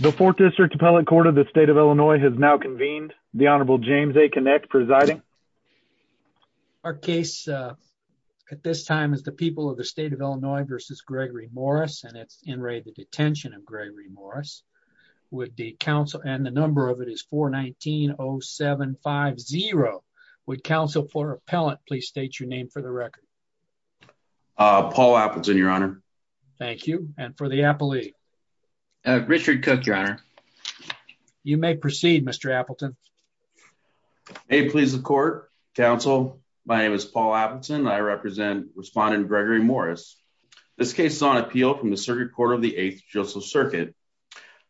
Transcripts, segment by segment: The fourth district appellate court of the state of Illinois has now convened the Honorable James a connect presiding our case At this time is the people of the state of Illinois versus Gregory Morris, and it's in raid the detention of Gregory Morris With the council and the number of it is four nineteen. Oh seven five zero Would counsel for appellant please state your name for the record? Paul Appleton your honor. Thank you and for the appellee Richard cook your honor You may proceed. Mr. Appleton Hey, please the court counsel. My name is Paul Appleton. I represent respondent Gregory Morris This case is on appeal from the circuit court of the 8th. Just a circuit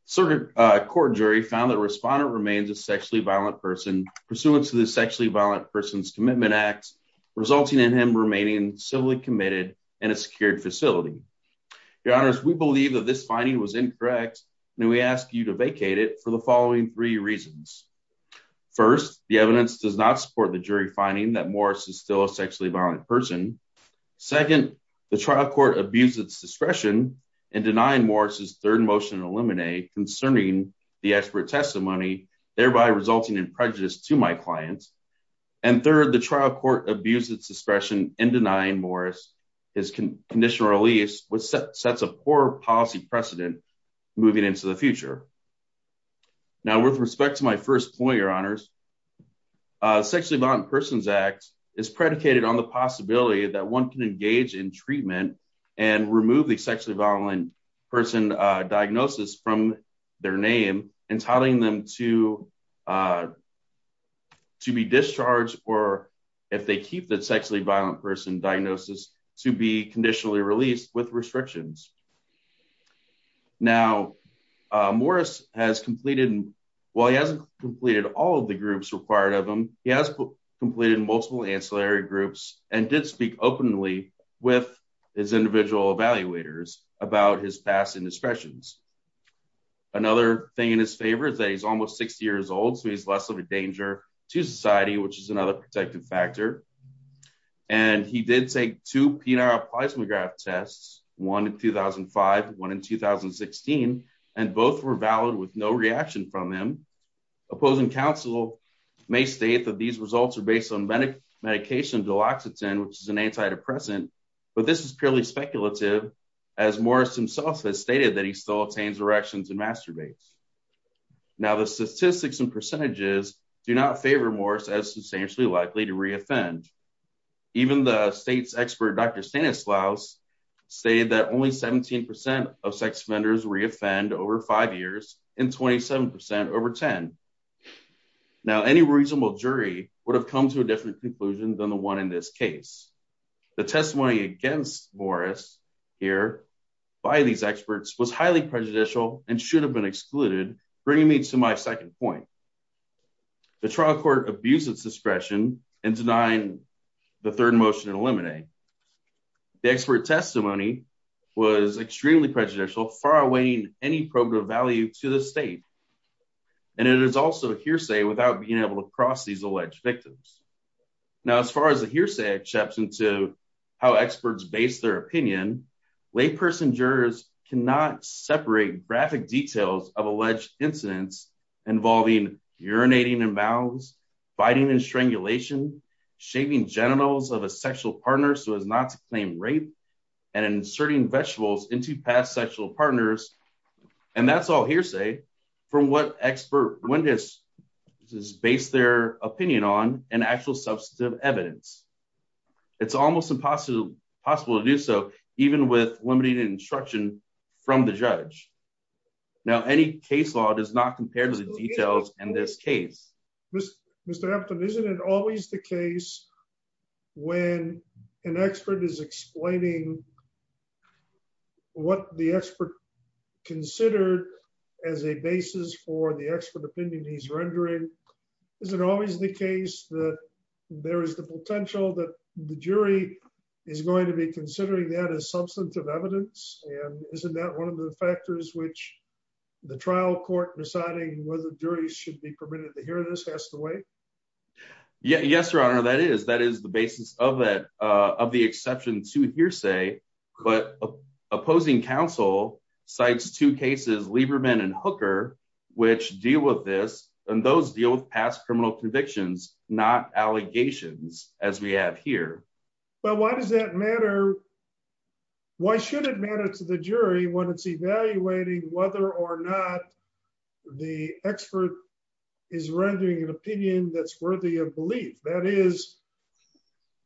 Circuit court jury found that respondent remains a sexually violent person pursuant to the sexually violent persons commitment acts Resulting in him remaining civilly committed in a secured facility Your honors we believe that this finding was incorrect and we ask you to vacate it for the following three reasons First the evidence does not support the jury finding that Morris is still a sexually violent person Second the trial court abused its discretion and denying Morris's third motion eliminate concerning the expert testimony thereby resulting in prejudice to my clients and Third the trial court abused its discretion in denying Morris his conditional release which sets a poor policy precedent moving into the future Now with respect to my first point your honors sexually violent persons act is predicated on the possibility that one can engage in treatment and remove the sexually violent person diagnosis from their name and telling them to To be discharged or if they keep that sexually violent person diagnosis to be conditionally released with restrictions Now Morris has completed while he hasn't completed all of the groups required of him He has completed multiple ancillary groups and did speak openly with his individual evaluators about his past indiscretions Another thing in his favor is that he's almost 60 years old. So he's less of a danger to society, which is another protective factor and he did take two penile plasmagraph tests one in 2005 one in 2016 and both were valid with no reaction from him Opposing counsel may state that these results are based on medic medication duloxetine, which is an antidepressant But this is purely speculative as Morris himself has stated that he still attains erections and masturbates Now the statistics and percentages do not favor Morris as substantially likely to reoffend Even the state's expert. Dr. Stanislaus Stated that only 17% of sex offenders reoffend over five years and 27% over 10 Now any reasonable jury would have come to a different conclusion than the one in this case The testimony against Morris here By these experts was highly prejudicial and should have been excluded bringing me to my second point The trial court abused its discretion and denying the third motion and eliminate the expert testimony was extremely prejudicial far away in any probe of value to the state and It is also hearsay without being able to cross these alleged victims Now as far as the hearsay accepts into how experts base their opinion lay person jurors cannot separate graphic details of alleged incidents involving urinating and mouths biting and strangulation shaving genitals of a sexual partner so as not to claim rape and inserting vegetables into past sexual partners, and that's all hearsay from what expert witness This is based their opinion on an actual substantive evidence It's almost impossible possible to do so even with limiting instruction from the judge Now any case law does not compare to the details in this case. Mr. Afton, isn't it always the case? when an expert is explaining What the expert Considered as a basis for the expert opinion. He's rendering Is it always the case that there is the potential that the jury? is going to be considering that as substantive evidence and isn't that one of the factors which The trial court deciding whether the jury should be permitted to hear this has to wait Yeah. Yes, your honor. That is that is the basis of that of the exception to hearsay, but Opposing counsel Cites two cases Lieberman and hooker which deal with this and those deal with past criminal convictions Not allegations as we have here. Well, why does that matter? Why should it matter to the jury when it's evaluating whether or not? the expert is rendering an opinion that's worthy of belief that is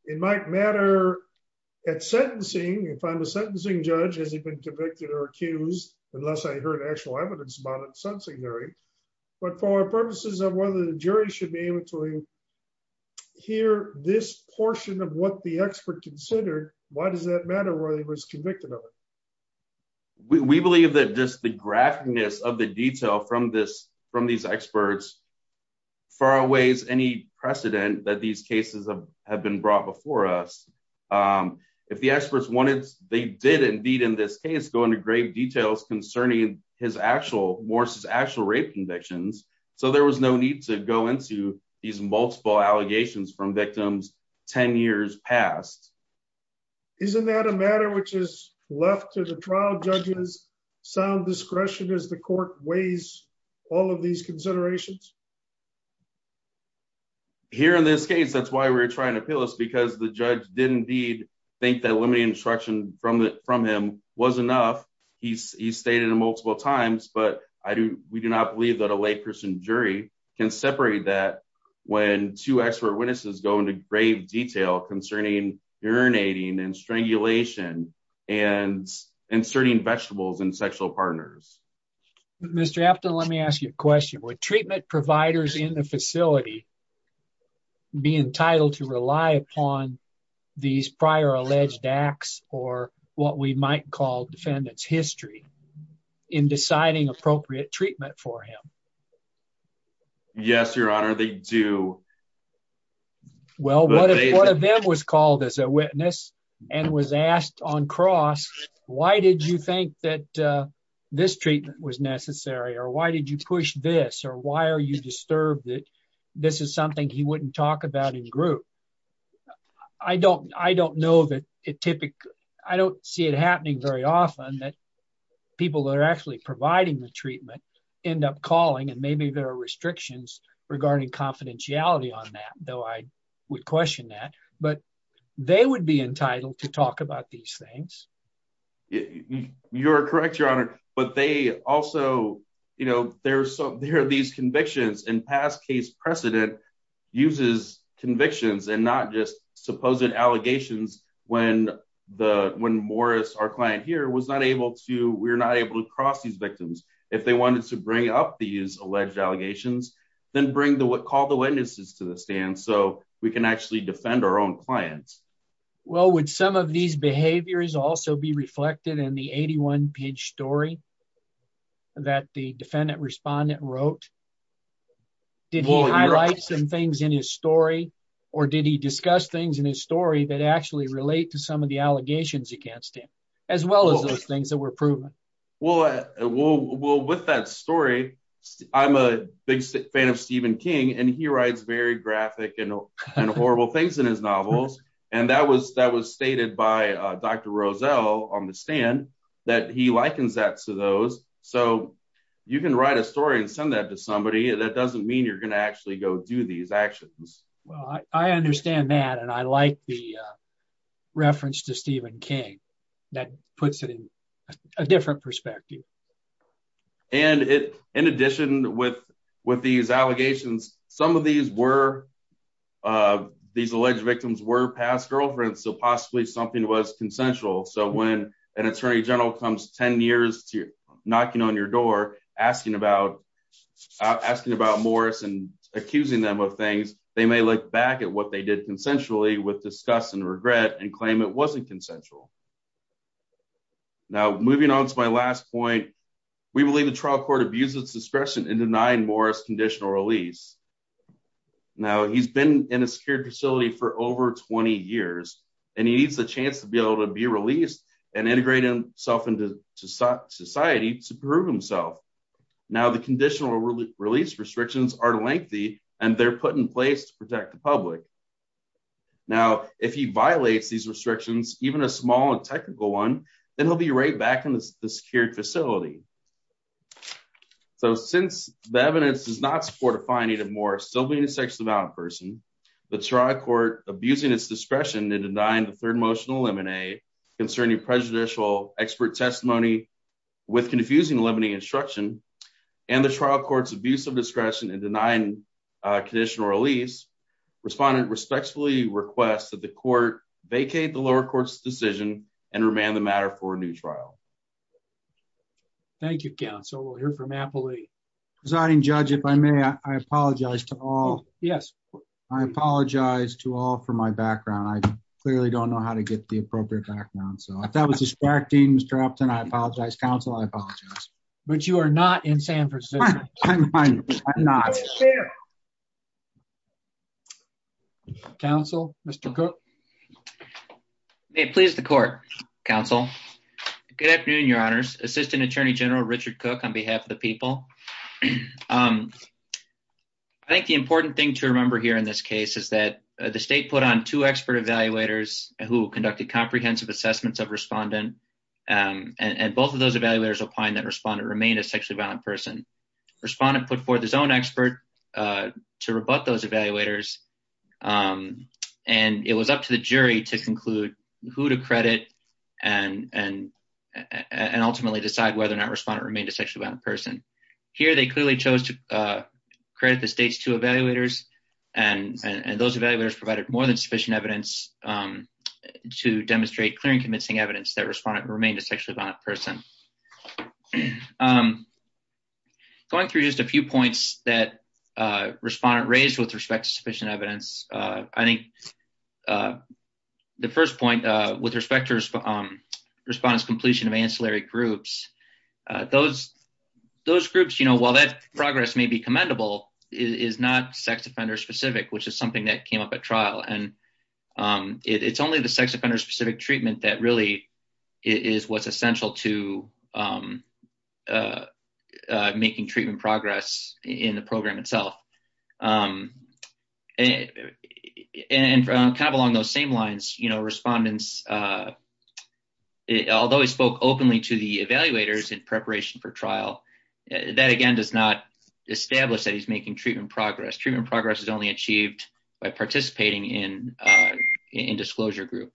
It might matter At sentencing if I'm a sentencing judge, has he been convicted or accused unless I heard actual evidence about it Something very but for purposes of whether the jury should be able to Hear this portion of what the expert considered. Why does that matter where he was convicted of it? We believe that just the graphicness of the detail from this from these experts Far aways any precedent that these cases have been brought before us If the experts wanted they did indeed in this case go into grave details concerning his actual Morris's actual rape convictions So there was no need to go into these multiple allegations from victims ten years past Isn't that a matter which is left to the trial judges sound discretion as the court weighs all of these considerations here In this case, that's why we're trying to peel us because the judge did indeed think that limiting instruction from the from him was enough He's stated in multiple times But I do we do not believe that a layperson jury can separate that when two expert witnesses go into grave detail concerning urinating and strangulation and inserting vegetables and sexual partners Mr. Afton, let me ask you a question with treatment providers in the facility Be entitled to rely upon These prior alleged acts or what we might call defendants history in deciding appropriate treatment for him Yes, your honor they do Well, one of them was called as a witness and was asked on cross. Why did you think that? This treatment was necessary or why did you push this or why are you disturbed it? This is something he wouldn't talk about in group. I Don't I don't know that it typically I don't see it happening very often that People that are actually providing the treatment end up calling and maybe there are restrictions Regarding confidentiality on that though. I would question that but they would be entitled to talk about these things You You're correct your honor, but they also You know, there's so there are these convictions and past case precedent uses convictions and not just supposed allegations when The when Morris our client here was not able to we're not able to cross these victims if they wanted to bring up these Alleged allegations then bring the what called the witnesses to the stand so we can actually defend our own clients Well, would some of these behaviors also be reflected in the 81 page story that the defendant respondent wrote Did he highlight some things in his story or did he discuss things in his story that actually relate to some of the allegations? Against him as well as those things that were proven. Well, well with that story I'm a big fan of Stephen King and he writes very graphic and Horrible things in his novels and that was that was stated by dr Roselle on the stand that he likens that to those so You can write a story and send that to somebody that doesn't mean you're gonna actually go do these actions well, I understand that and I like the Reference to Stephen King that puts it in a different perspective And it in addition with with these allegations some of these were These alleged victims were past girlfriends. So possibly something was consensual So when an attorney general comes 10 years to knocking on your door asking about Asking about Morris and accusing them of things They may look back at what they did consensually with disgust and regret and claim. It wasn't consensual Now moving on to my last point we believe the trial court abuses discretion in denying Morris conditional release Now he's been in a secured facility for over 20 years And he needs the chance to be able to be released and integrate himself into society to prove himself Now the conditional release restrictions are lengthy and they're put in place to protect the public Now if he violates these restrictions even a small and technical one, then he'll be right back in the secured facility So since the evidence does not support a finding of Morris still being a sexually violent person The trial court abusing its discretion in denying the third motion eliminate concerning prejudicial expert testimony With confusing limiting instruction and the trial courts abuse of discretion in denying conditional release Respondent respectfully requests that the court vacate the lower courts decision and remand the matter for a new trial Thank you council. We'll hear from Appley Residing judge if I may I apologize to all yes, I apologize to all for my background I clearly don't know how to get the appropriate background. So if that was distracting mr. Upton, I apologize counsel I apologize, but you are not in San Francisco Council mr. Cook May it please the court council good afternoon Your honors assistant attorney general Richard Cook on behalf of the people I Think the important thing to remember here in this case is that the state put on two expert evaluators who conducted comprehensive assessments of respondent And both of those evaluators opine that respond to remain a sexually violent person Respondent put forth his own expert to rebut those evaluators and it was up to the jury to conclude who to credit and and Ultimately decide whether or not respondent remained a sexually violent person here. They clearly chose to credit the state's two evaluators and And those evaluators provided more than sufficient evidence To demonstrate clearing convincing evidence that respondent remained a sexually violent person Going through just a few points that Respondent raised with respect to sufficient evidence. I think The first point with respect to Respondents completion of ancillary groups those Those groups, you know while that progress may be commendable is not sex offender specific, which is something that came up at trial and It's only the sex offender specific treatment. That really is what's essential to Making treatment progress in the program itself And kind of along those same lines, you know respondents Although he spoke openly to the evaluators in preparation for trial that again does not Establish that he's making treatment progress treatment progress is only achieved by participating in in disclosure group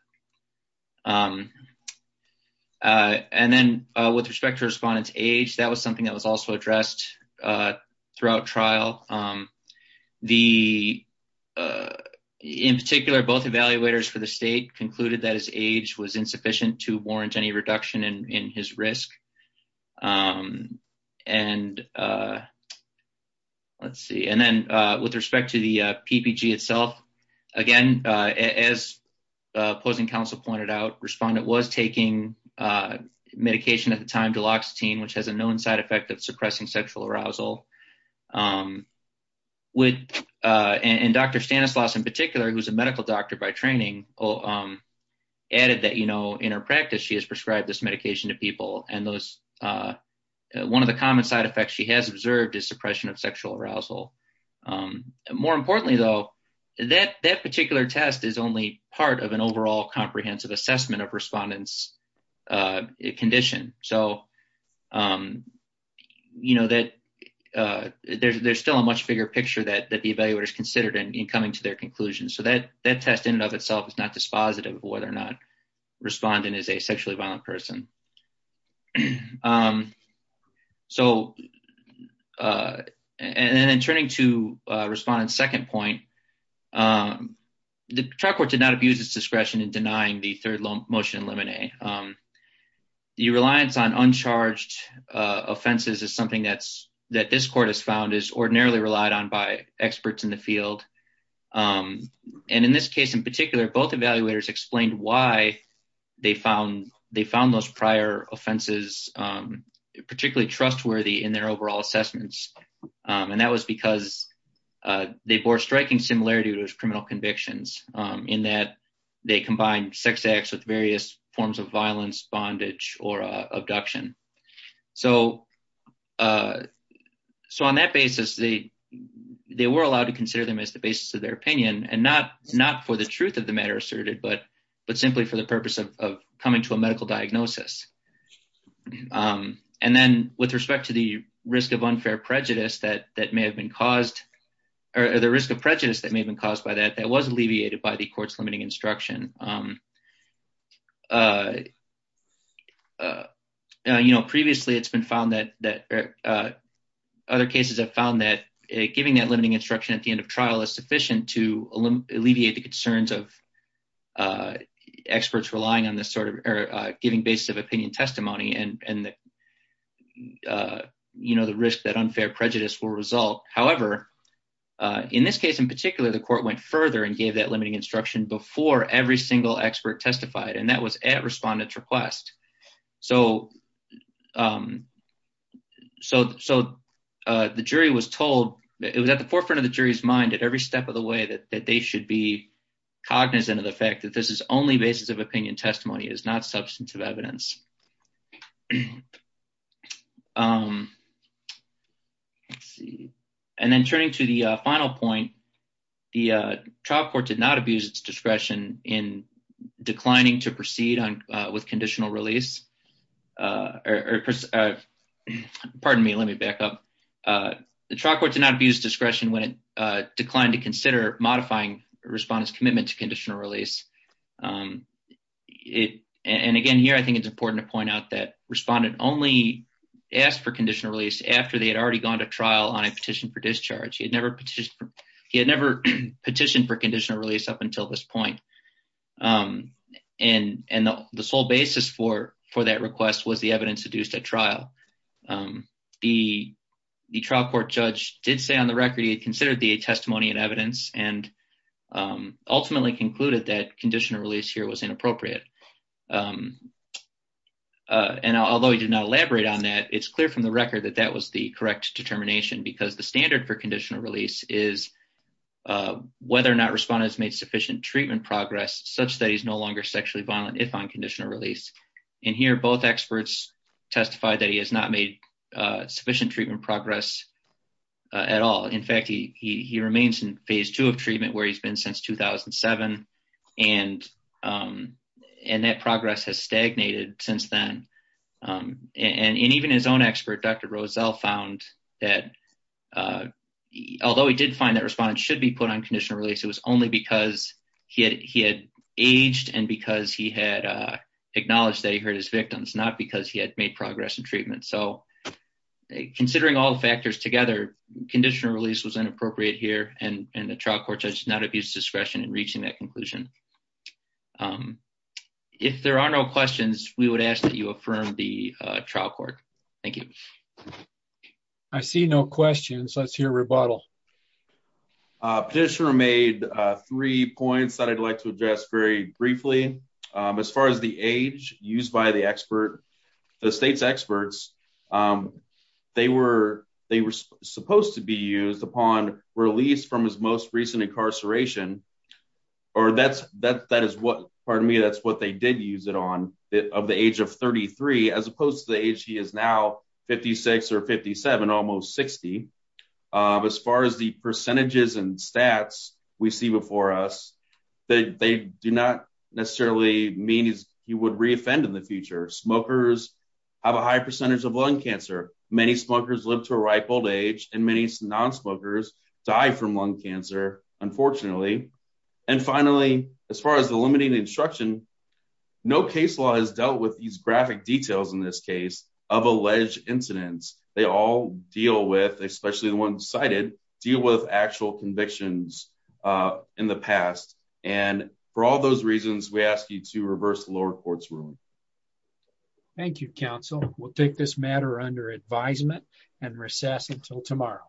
And then with respect to respondents age that was something that was also addressed throughout trial the In particular both evaluators for the state concluded that his age was insufficient to warrant any reduction in his risk and Let's see and then with respect to the PPG itself again as opposing counsel pointed out respondent was taking Medication at the time to locks teen which has a known side effect of suppressing sexual arousal With and dr. Stanislaus in particular who's a medical doctor by training. Oh, I'm Added that you know in her practice. She has prescribed this medication to people and those One of the common side effects. She has observed is suppression of sexual arousal More importantly though that that particular test is only part of an overall comprehensive assessment of respondents condition so You know that There's there's still a much bigger picture that the evaluators considered in coming to their conclusion so that that test in and of itself is Not dispositive of whether or not Respondent is a sexually violent person So And then turning to respond in second point The truck or did not abuse his discretion in denying the third motion limine The reliance on uncharged Offenses is something that's that this court has found is ordinarily relied on by experts in the field And in this case in particular both evaluators explained why they found they found those prior offenses Particularly trustworthy in their overall assessments and that was because They bore striking similarity to those criminal convictions in that They combined sex acts with various forms of violence bondage or abduction. So So on that basis they They were allowed to consider them as the basis of their opinion and not not for the truth of the matter asserted But but simply for the purpose of coming to a medical diagnosis And then with respect to the risk of unfair prejudice that that may have been caused Or the risk of prejudice that may have been caused by that that was alleviated by the courts limiting instruction um You know previously it's been found that that other cases have found that giving that limiting instruction at the end of trial is sufficient to alleviate the concerns of Experts relying on this sort of giving basis of opinion testimony and and You know the risk that unfair prejudice will result however In this case in particular the court went further and gave that limiting instruction before every single expert testified and that was at respondents request so So so The jury was told it was at the forefront of the jury's mind at every step of the way that they should be Cognizant of the fact that this is only basis of opinion testimony is not substantive evidence And Then turning to the final point the trial court did not abuse its discretion in declining to proceed on with conditional release Pardon me. Let me back up The trial court did not abuse discretion when it declined to consider modifying respondents commitment to conditional release It and again here I think it's important to point out that respondent only Asked for conditional release after they had already gone to trial on a petition for discharge. He had never petitioned He had never petitioned for conditional release up until this point And and the sole basis for for that request was the evidence adduced at trial the the trial court judge did say on the record he had considered the testimony and evidence and Ultimately concluded that conditional release here was inappropriate And although he did not elaborate on that it's clear from the record that that was the correct determination because the standard for conditional release is Whether or not respondents made sufficient treatment progress such that he's no longer sexually violent if on conditional release and here both experts Testified that he has not made sufficient treatment progress At all, in fact, he he remains in phase two of treatment where he's been since 2007 and And that progress has stagnated since then and and even his own expert dr. Roselle found that Although he did find that response should be put on conditional release it was only because he had he had aged and because he had Acknowledged that he heard his victims not because he had made progress in treatment. So Considering all the factors together Conditional release was inappropriate here and and the trial court judge did not abuse discretion in reaching that conclusion If there are no questions, we would ask that you affirm the trial court. Thank you. I See, no questions. Let's hear rebuttal Petitioner made three points that I'd like to address very briefly As far as the age used by the expert the state's experts They were they were supposed to be used upon released from his most recent incarceration Or that's that that is what part of me. That's what they did use it on of the age of 33 as opposed to the age He is now 56 or 57 almost 60 As far as the percentages and stats we see before us That they do not necessarily mean is he would reoffend in the future smokers Have a high percentage of lung cancer many smokers live to a ripe old age and many non smokers die from lung cancer unfortunately, and Finally as far as the limiting instruction No case law has dealt with these graphic details in this case of alleged incidents They all deal with especially the one cited deal with actual convictions in the past and For all those reasons we ask you to reverse the lower courts ruling Thank You counsel, we'll take this matter under advisement and recess until tomorrow